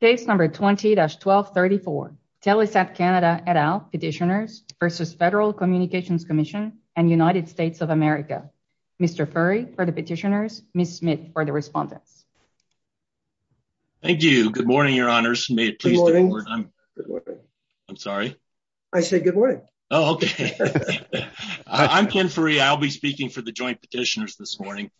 Case number 20-1234. Telesat Canada et al. petitioners versus Federal Communications Commission and United States of America. Mr. Furey for the petitioners, Ms. Smith for the respondents. Thank you. Good morning, your honors. May it please the board. I'm sorry. I said good morning. Oh, okay. I'm Ken Furey. I'll be speaking for the joint petitioners this morning.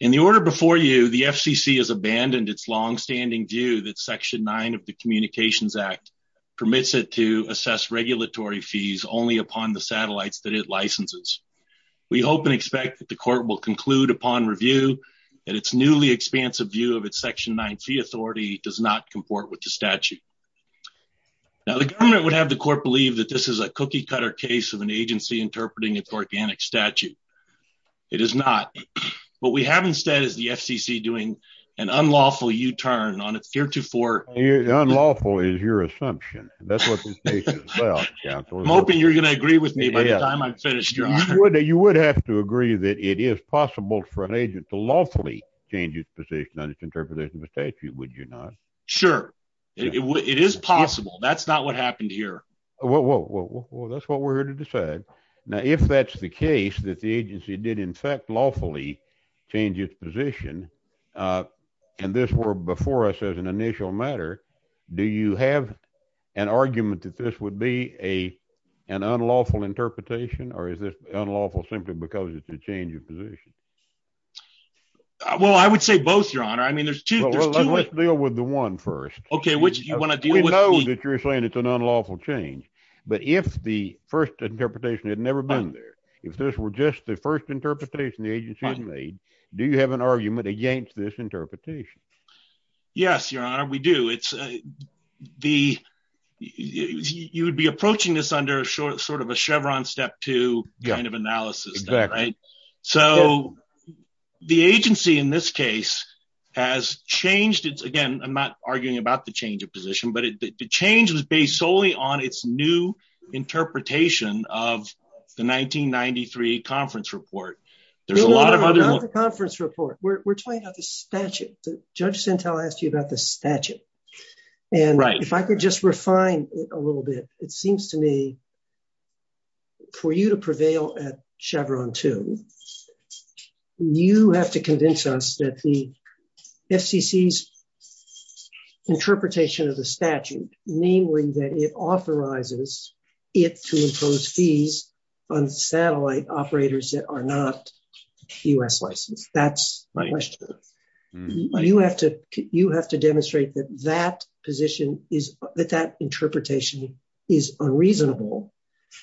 In the order before you, the FCC has abandoned its long-standing view that Section 9 of the Communications Act permits it to assess regulatory fees only upon the satellites that it licenses. We hope and expect that the court will conclude upon review that its newly expansive view of its Section 9 fee authority does not comport with the statute. Now, the government would have the court believe that this is a cookie-cutter case of an agency interpreting its organic statute. It is not. What we have instead is the FCC doing an unlawful U-turn on its heretofore— Unlawful is your assumption. That's what this case is about, counsel. I'm hoping you're going to agree with me by the time I've finished, your honor. You would have to agree that it is possible for an agent to lawfully change its position on its interpretation of a statute, would you not? Sure. It is possible. That's not what happened here. Well, that's what we're here to decide. Now, if that's the case, that the agency did in fact lawfully change its position, and this were before us as an initial matter, do you have an argument that this would be an unlawful interpretation, or is this unlawful simply because it's a change of position? Well, I would say both, your honor. I mean, there's two— Well, let's deal with the one first. Okay, which do you want to deal with? We know that you're saying it's an unlawful change, but if the first interpretation had never been there, if this were just the first interpretation the agency had made, do you have an argument against this interpretation? Yes, your honor, we do. You would be approaching this under sort of a Chevron step two kind of analysis, right? So the agency in this case has changed its—again, I'm not arguing about the change of position, but the change was based solely on its new interpretation of the 1993 conference report. There's a lot of other— No, no, no, not the conference report. We're talking about the statute. Judge Sentelle asked you about the statute, and if I could just refine it a little bit, it seems to me for you to prevail at Chevron two, you have to convince us that the interpretation of the statute, namely that it authorizes it to impose fees on satellite operators that are not U.S. licensed. That's my question. You have to demonstrate that that position is—that that interpretation is unreasonable,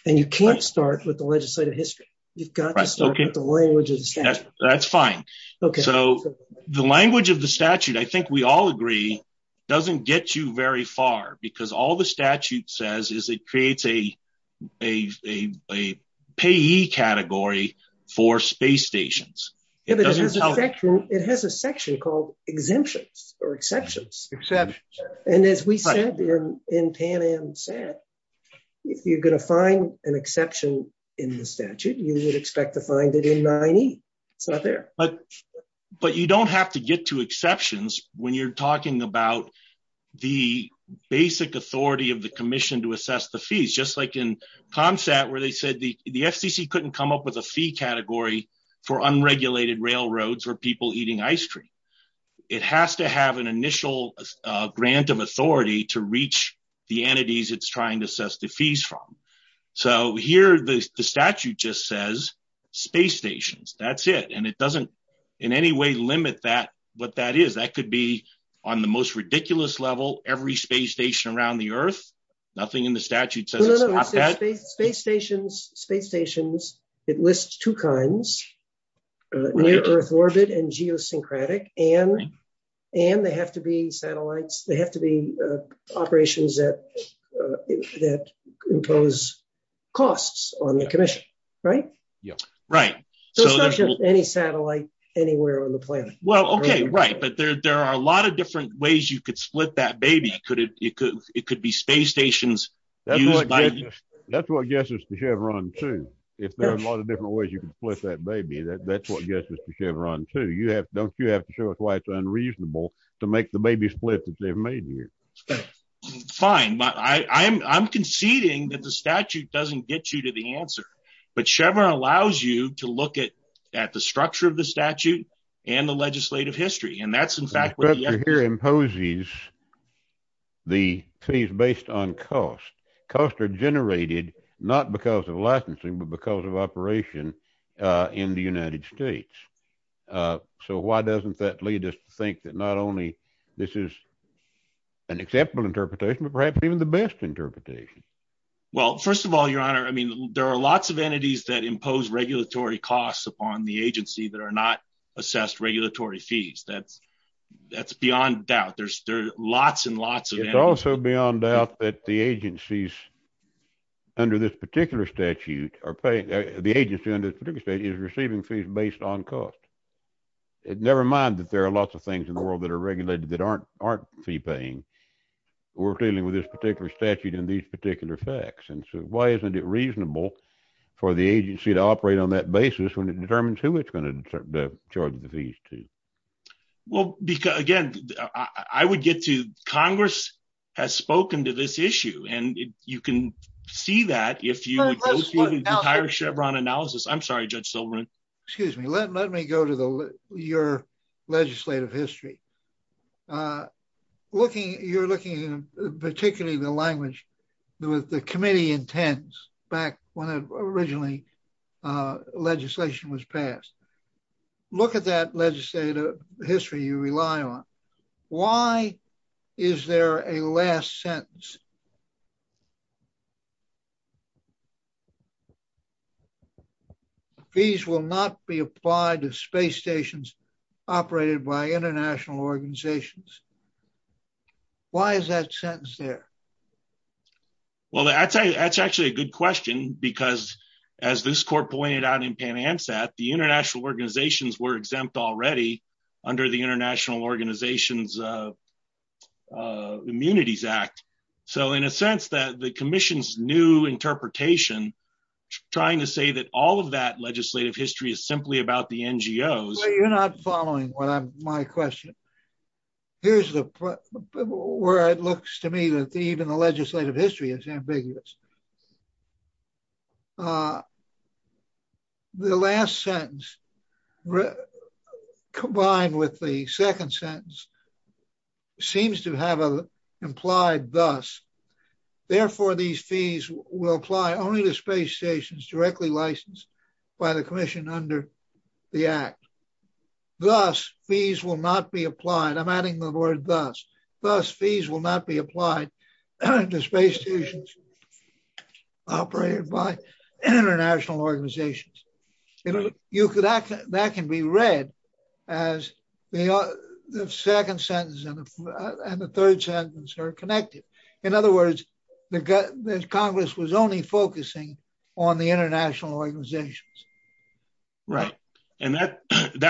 and you can't start with the legislative history. You've got to start with the language of the statute. That's fine. So the language of the statute, I think we all agree, doesn't get you very far because all the statute says is it creates a payee category for space stations. It has a section called exemptions or exceptions, and as we said in Pan Am said, if you're going to find an exception in the statute, you would expect to find it in 9E. But you don't have to get to exceptions when you're talking about the basic authority of the commission to assess the fees, just like in ComSat where they said the FCC couldn't come up with a fee category for unregulated railroads or people eating ice cream. It has to have an initial grant of authority to reach the entities it's trying to assess the fees from. So here the statute just says space stations. That's it, and it doesn't in any way limit what that is. That could be on the most ridiculous level, every space station around the Earth. Nothing in the statute says it's not that. Space stations, it lists two kinds, near-Earth orbit and geosyncratic, and they have to be satellites. They have to be operations that impose costs on the commission, right? Yeah, right. So it's not just any satellite anywhere on the planet. Well, okay, right, but there are a lot of different ways you could split that baby. It could be space stations. That's what gets us to Chevron too. If there are a lot of different ways you can split that baby, that's what gets us to Chevron too. Don't you have to show us why it's unreasonable to make the baby split that they've made here? Fine, but I'm conceding that the statute doesn't get you to the answer, but Chevron allows you to look at the structure of the statute and the legislative history, and that's in fact where the effort here imposes the fees based on cost. Costs are generated not because of licensing, but because of operation in the United States. So why doesn't that lead us to think that not only this is an acceptable interpretation, but perhaps even the best interpretation? Well, first of all, your honor, I mean, there are lots of entities that impose regulatory costs upon the agency that are not assessed regulatory fees. That's beyond doubt. There's lots and lots of- It's also beyond doubt that the agency under this particular statute is receiving fees based on aren't fee paying. We're dealing with this particular statute in these particular facts, and so why isn't it reasonable for the agency to operate on that basis when it determines who it's going to charge the fees to? Well, again, I would get to Congress has spoken to this issue, and you can see that if you would go through the entire Chevron analysis. I'm sorry, Judge Silverman. Excuse me. Let me go to your legislative history. You're looking at particularly the language that the committee intends back when originally legislation was passed. Look at that legislative history you rely on. Why is there a last sentence? Fees will not be applied to space stations operated by international organizations. Why is that sentence there? Well, that's actually a good question because as this court pointed out in Pan Amsat, the international organizations were exempt already under the International Organizations Immunities Act. So, the international organizations were exempt in a sense that the commission's new interpretation trying to say that all of that legislative history is simply about the NGOs. You're not following my question. Here's where it looks to me that even the legislative history is ambiguous. The last sentence combined with the second sentence seems to have implied thus. Therefore, these fees will apply only to space stations directly licensed by the commission under the act. Thus, fees will not be applied. I'm adding the word thus. Thus, fees will not be operated by international organizations. That can be read as the second sentence and the third sentence are connected. In other words, the Congress was only focusing on the international organizations. If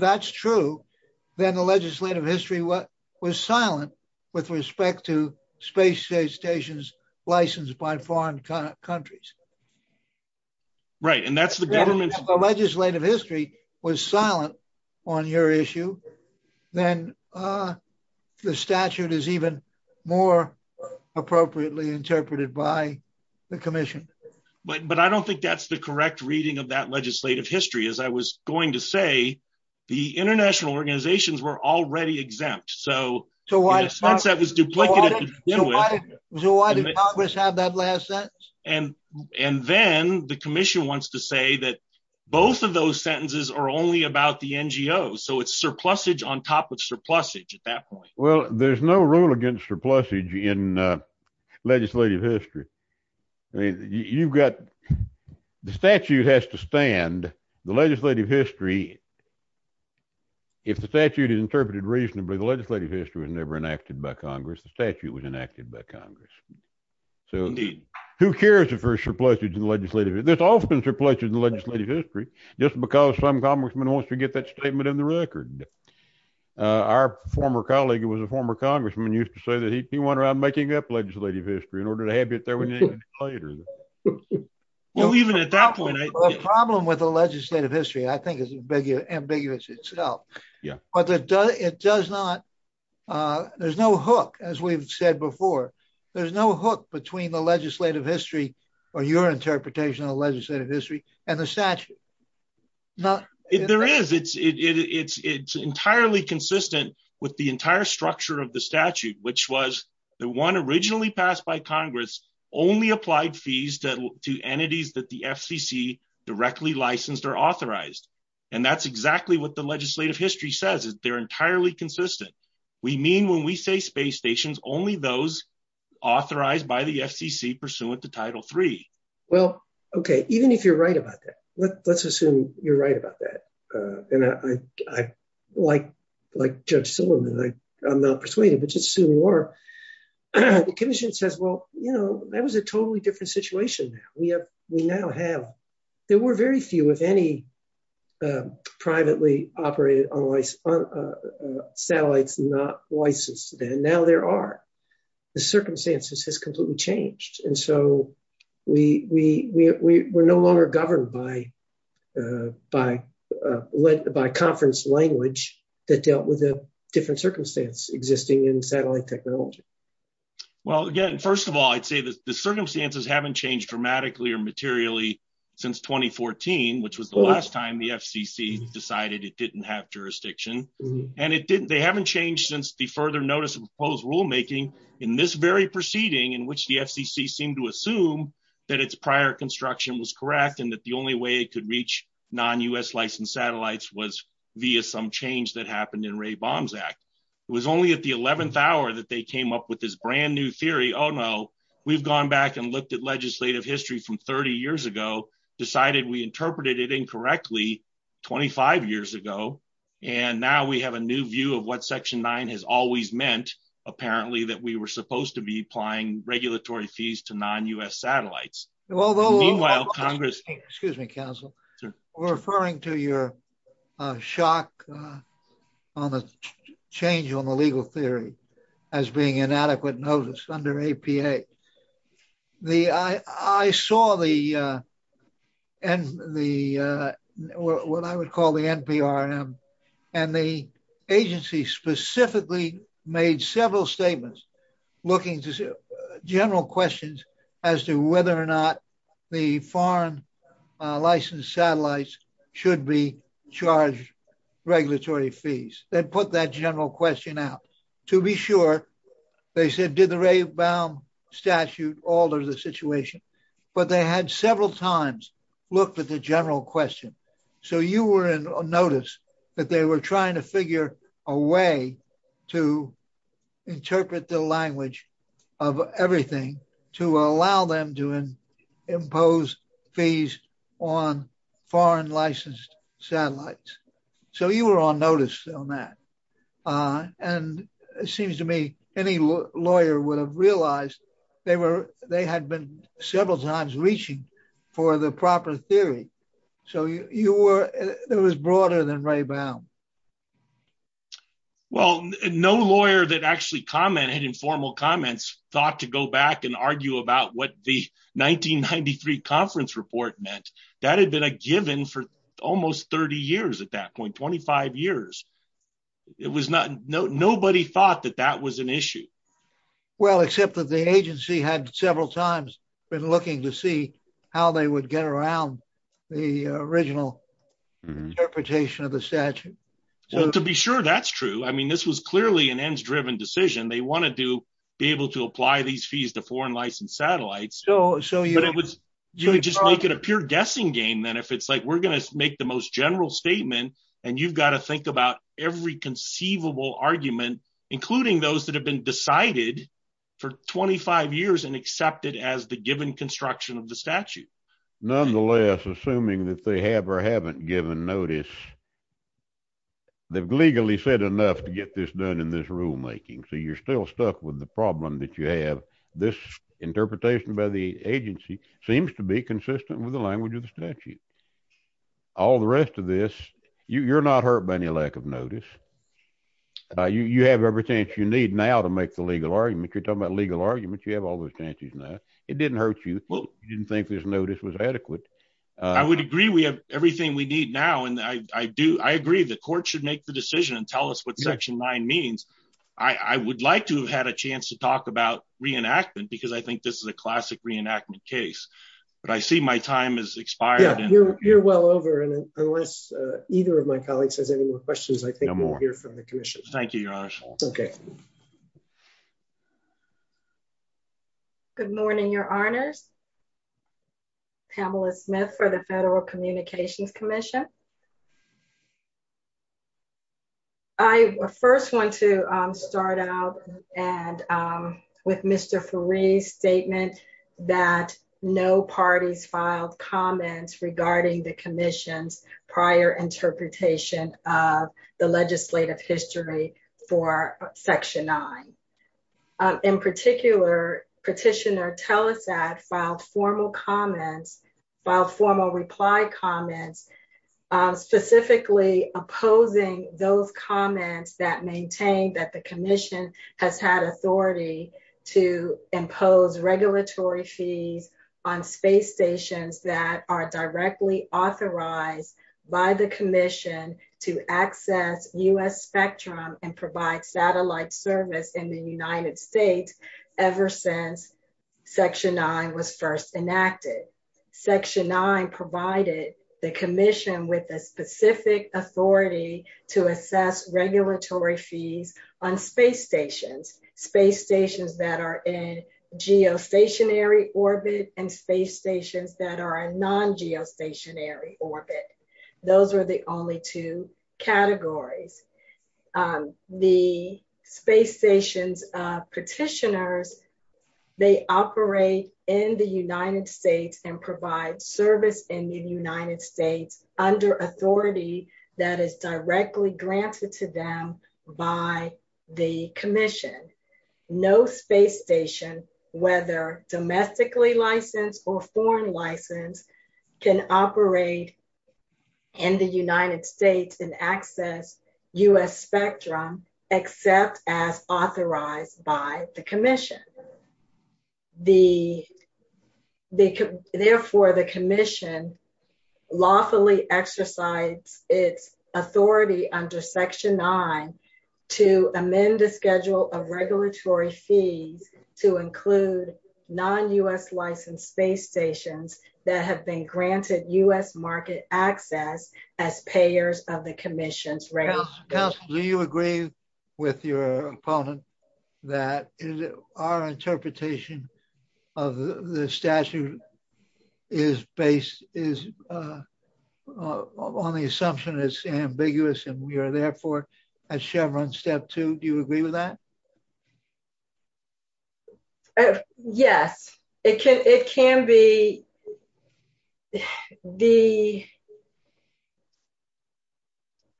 that's true, then the legislative history was silent with respect to space stations licensed by foreign countries. If the legislative history was silent on your issue, then the statute is even more appropriately interpreted by the commission. But I don't think that's the correct reading of that legislative history. As I was going to say, the international organizations were already exempt. So, why did Congress have that last sentence? And then the commission wants to say that both of those sentences are only about the NGOs. So, it's surplusage on top of surplusage at that point. Well, there's no rule against surplusage in legislative history. The statute has to stand. The legislative history if the statute is interpreted reasonably, the legislative history was never enacted by Congress. The statute was enacted by Congress. So, who cares if there's surplusage in legislative history? There's often surplusage in legislative history just because some congressman wants to get that statement in the record. Our former colleague who was a former congressman used to say that he went around making up legislative history in order to have it there later. Well, even at that point, the problem with the legislative history I think is ambiguous itself. There's no hook, as we've said before. There's no hook between the legislative history or your interpretation of legislative history and the statute. There is. It's entirely consistent with the entire structure of the statute, which was that one originally passed by Congress only applied fees to entities that the FCC directly licensed or authorized. And that's exactly what the legislative history says. They're entirely consistent. We mean when we say space stations, only those authorized by the FCC pursuant to Title III. Well, okay. Even if you're right about that, let's assume you're right about that. Like Judge Silliman, I'm not persuaded, but just assume you are. The commission says, well, that was a totally different situation. There were very few, if any, privately operated satellites not licensed. And now there are. The circumstances has led by conference language that dealt with a different circumstance existing in satellite technology. Well, again, first of all, I'd say that the circumstances haven't changed dramatically or materially since 2014, which was the last time the FCC decided it didn't have jurisdiction. They haven't changed since the further notice of proposed rulemaking in this very proceeding in which the FCC seemed to assume that its prior construction was correct and that the only way could reach non-U.S. licensed satellites was via some change that happened in Ray Bomzak. It was only at the 11th hour that they came up with this brand new theory. Oh, no, we've gone back and looked at legislative history from 30 years ago, decided we interpreted it incorrectly 25 years ago. And now we have a new view of what Section 9 has always meant, apparently, that we were supposed to be applying regulatory fees to non-U.S. satellites. Meanwhile, Congress- referring to your shock on the change on the legal theory as being inadequate notice under APA. The I saw the and the what I would call the NPRM and the agency specifically made several statements looking to general questions as to whether or not the foreign licensed satellites should be charged regulatory fees. They put that general question out to be sure. They said, did the Ray Baum statute alter the situation? But they had several times looked at the general question. So you were in notice that they were trying to figure a way to interpret the language of everything to allow them to impose fees on foreign licensed satellites. So you were on notice on that. And it seems to me any lawyer would have realized they were they had been several times reaching for the proper theory. So you were there was broader than Ray Baum. Well, no lawyer that actually commented in formal comments thought to go back and argue about what the 1993 conference report meant. That had been a given for almost 30 years at that point, 25 years. It was not no nobody thought that that was an issue. Well, except that the agency had several times been looking to see how they would get around the original interpretation of the statute. To be sure that's true. I mean, this was clearly an ends driven decision. They wanted to be able to apply these fees to foreign licensed satellites. So you would just make it a pure guessing game. Then if it's like we're going to make the most general statement and you've got to think about every conceivable argument, including those that have been decided for 25 years and accepted as the given construction of the statute. Nonetheless, assuming that they have or haven't given notice, they've legally said enough to get this done in this rulemaking. So you're still stuck with the problem that you have. This interpretation by the agency seems to be consistent with language of the statute. All the rest of this, you're not hurt by any lack of notice. You have everything you need now to make the legal argument. You're talking about legal arguments. You have all those chances now. It didn't hurt you. You didn't think this notice was adequate. I would agree. We have everything we need now. And I do. I agree. The court should make the decision and tell us what section nine means. I would like to have had a chance to talk about re-enactment because I think this is a classic re-enactment case. But I see my time has expired. You're well over. And unless either of my colleagues has any more questions, I think we'll hear from the commission. Thank you, Your Honor. Good morning, Your Honors. Pamela Smith for the Federal Communications Commission. I first want to start out with Mr. Faree's statement that no parties filed comments regarding the commission's prior interpretation of the legislative history for section nine. In particular, Petitioner Telesat filed formal comments, filed formal reply comments, specifically opposing those comments that maintain that the commission has had authority to impose regulatory fees on space stations that are directly authorized by the commission to access U.S. spectrum and provide satellite service in the United States ever since section nine was first enacted. Section nine provided the commission with a specific authority to assess regulatory fees on space stations, space stations that are in geostationary orbit and space stations that are in non-geostationary orbit. Those are the only two categories. The space stations petitioners, they operate in the United States and provide service in the United States under authority that is directly granted to them by the commission. No space station, whether domestically licensed or foreign licensed, can operate in the United States and access U.S. spectrum except as authorized by the commission. Therefore, the commission lawfully exercises its authority under section nine to amend the schedule of regulatory fees to include non-U.S. licensed space stations that have been granted U.S. market access as payers of the commission's regulations. Do you agree with your opponent that our interpretation of the statute is based on the assumption that it's ambiguous and we are therefore at Chevron step two? Do you agree with that? Yes, it can be.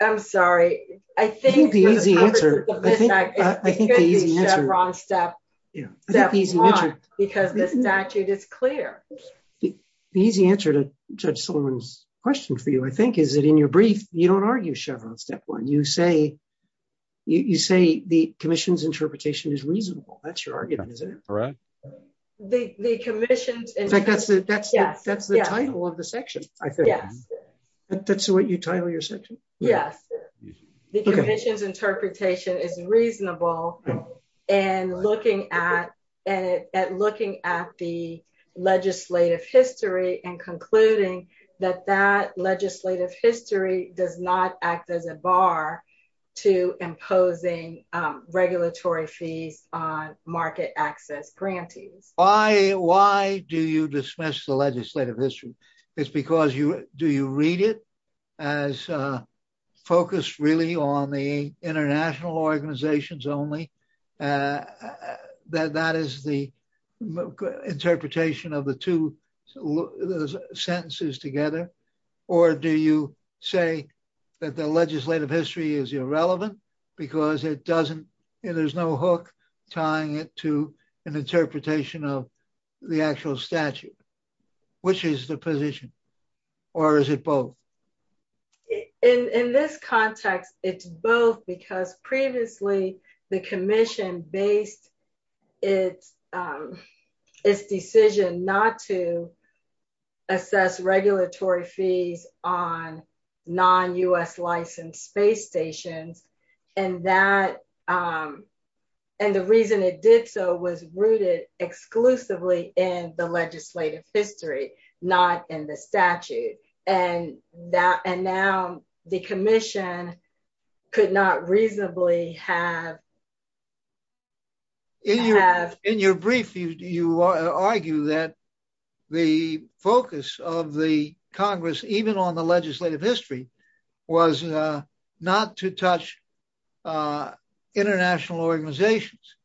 I'm sorry. I think the easy answer, I think, I think the easy answer on step because the statute is clear. The easy answer to Judge Sullivan's question for you, I think, is that in your brief, you don't argue Chevron step one. You say the commission's interpretation is reasonable. That's your argument, isn't it? Right. In fact, that's the title of the section, I think. That's what you title your section? Yes. The commission's interpretation is reasonable and looking at the legislative history and concluding that that legislative history does not act as a bar to imposing regulatory fees on market access grantees. Why do you dismiss the legislative history? It's because you do you read it as focused really on the international organizations only. That is the interpretation of the two sentences together. Or do you say that the legislative history is irrelevant because it doesn't, there's no hook tying it to an interpretation of the actual statute, which is the position or is it both? In this context, it's both because previously, the commission based its decision not to assess regulatory fees on non-U.S. licensed space stations. And that, and the reason it did so was rooted exclusively in the legislative history, not in the statute. And that, and now the commission could not reasonably have. In your brief, you argue that the focus of the Congress, even on the legislative history, was not to touch international organizations.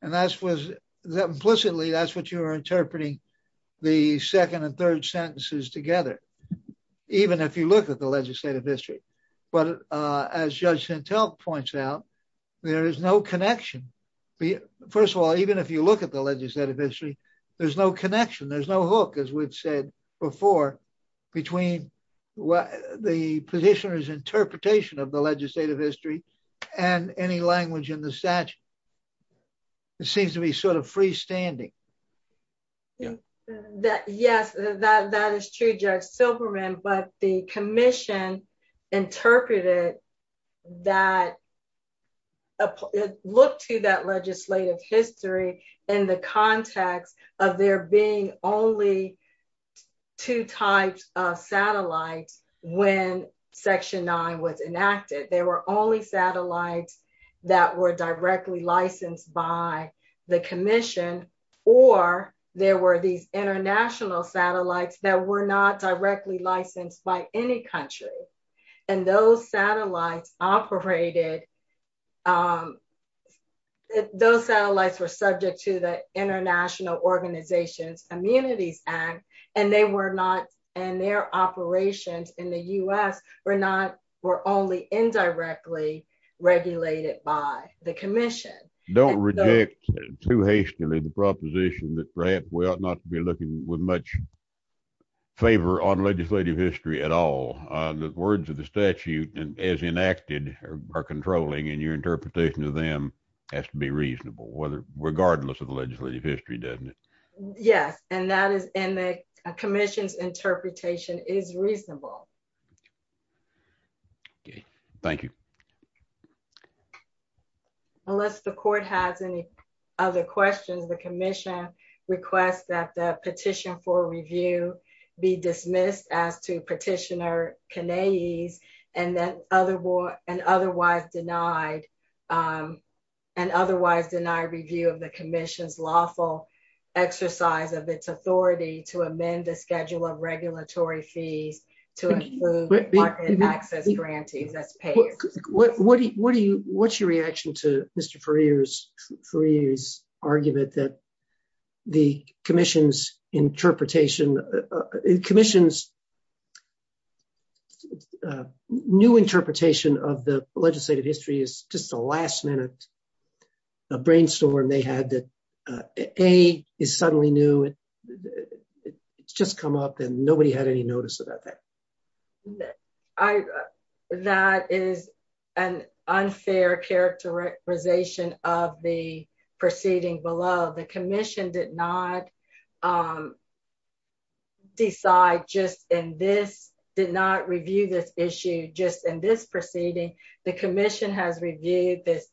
And that was implicitly, that's what you're even if you look at the legislative history. But as Judge Santel points out, there is no connection. First of all, even if you look at the legislative history, there's no connection. There's no hook, as we've said before, between the petitioner's interpretation of the legislative history and any language in the statute. It seems to be sort of freestanding. Yeah. Yes, that is true, Judge Silberman. But the commission interpreted that, looked to that legislative history in the context of there being only two types of satellites when Section 9 was enacted. There were only satellites that were directly licensed by the commission, or there were these international satellites that were not directly licensed by any country. And those satellites operated, those satellites were subject to the International Organizations Communities Act, and they were not, and their operations in the U.S. were not, were only indirectly regulated by the commission. Don't reject too hastily the proposition that perhaps we ought not to be looking with much favor on legislative history at all. The words of the statute, as enacted, are controlling, and your interpretation of them has to be reasonable, whether, regardless of the legislative history, doesn't it? Yes, and that is, and the commission's interpretation is reasonable. Okay, thank you. Unless the court has any other questions, the commission requests that the petition for review be dismissed as to Petitioner Kanae's, and otherwise denied review of the commission's lawful exercise of its authority to amend the schedule of regulatory fees to include access grantees as payers. What do you, what's your reaction to Mr. Ferrier's argument that the commission's interpretation, the commission's new interpretation of the legislative history is just a last minute brainstorm they had that, A, is suddenly new, it's just come up, and nobody had any notice about that. I, that is an unfair characterization of the proceeding below. The commission did not decide just in this, did not review this issue just in this proceeding. The commission has that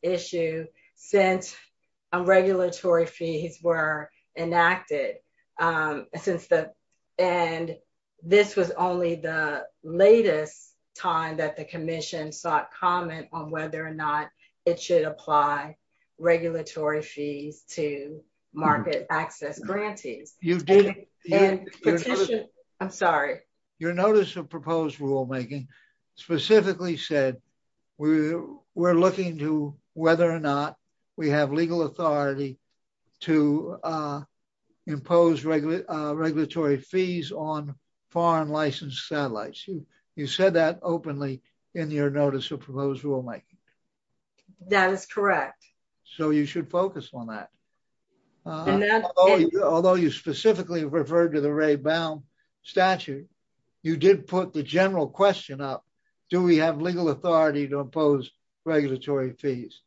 the commission sought comment on whether or not it should apply regulatory fees to market access grantees. You didn't. And I'm sorry. Your notice of proposed rulemaking specifically said we're looking to whether or not we have legal authority to impose regulatory fees on foreign satellites. You said that openly in your notice of proposed rulemaking. That is correct. So you should focus on that. Although you specifically referred to the statute, you did put the general question up. Do we have legal authority to impose regulatory fees?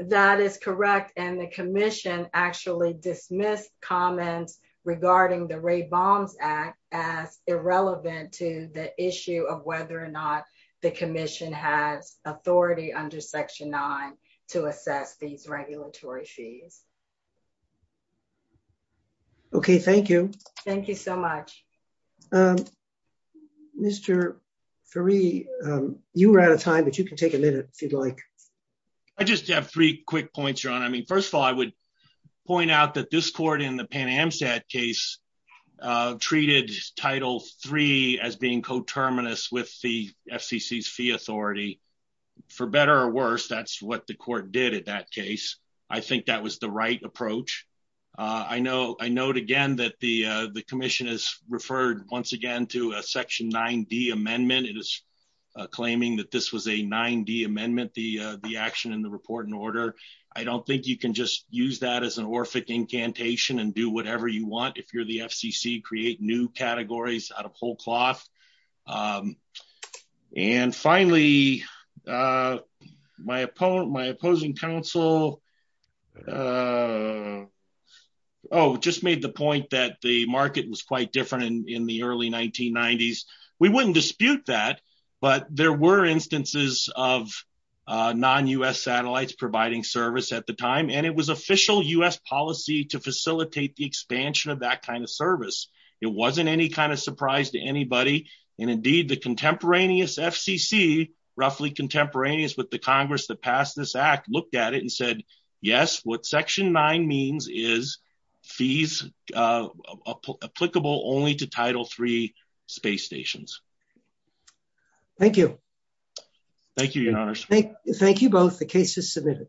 That is correct. And the commission actually dismissed comments regarding the Ray Balms Act as irrelevant to the issue of whether or not the commission has authority under Section 9 to assess these regulatory fees. Okay. Thank you. Thank you so much. Mr. Fari, you were out of time, but you can take a minute if you'd like. I just have three quick points, Your Honor. I mean, first of all, I would point out that this court in the Pan Amsat case treated Title III as being coterminous with the FCC's fee authority. For better or worse, that's what the court did in that case. I think that was the right approach. I note again that the commission has referred once again to a Section 9D amendment. It is claiming that this was a 9D amendment, the action in the report and order. I don't think you can just use that as an Orphic incantation and do whatever you want. If you're the FCC, create new categories out of whole cloth. And finally, my opposing counsel just made the point that the market was quite different in the early 1990s. We wouldn't dispute that, but there were instances of non-U.S. satellites providing service at the time. It was official U.S. policy to facilitate the expansion of that kind of service. It wasn't any kind of surprise to anybody. Indeed, the contemporaneous FCC, roughly contemporaneous with the Congress that passed this act, looked at it and said, yes, what Section 9 means is applicable only to Title III space stations. Thank you. Thank you, Your Honors. Thank you both. The case is submitted.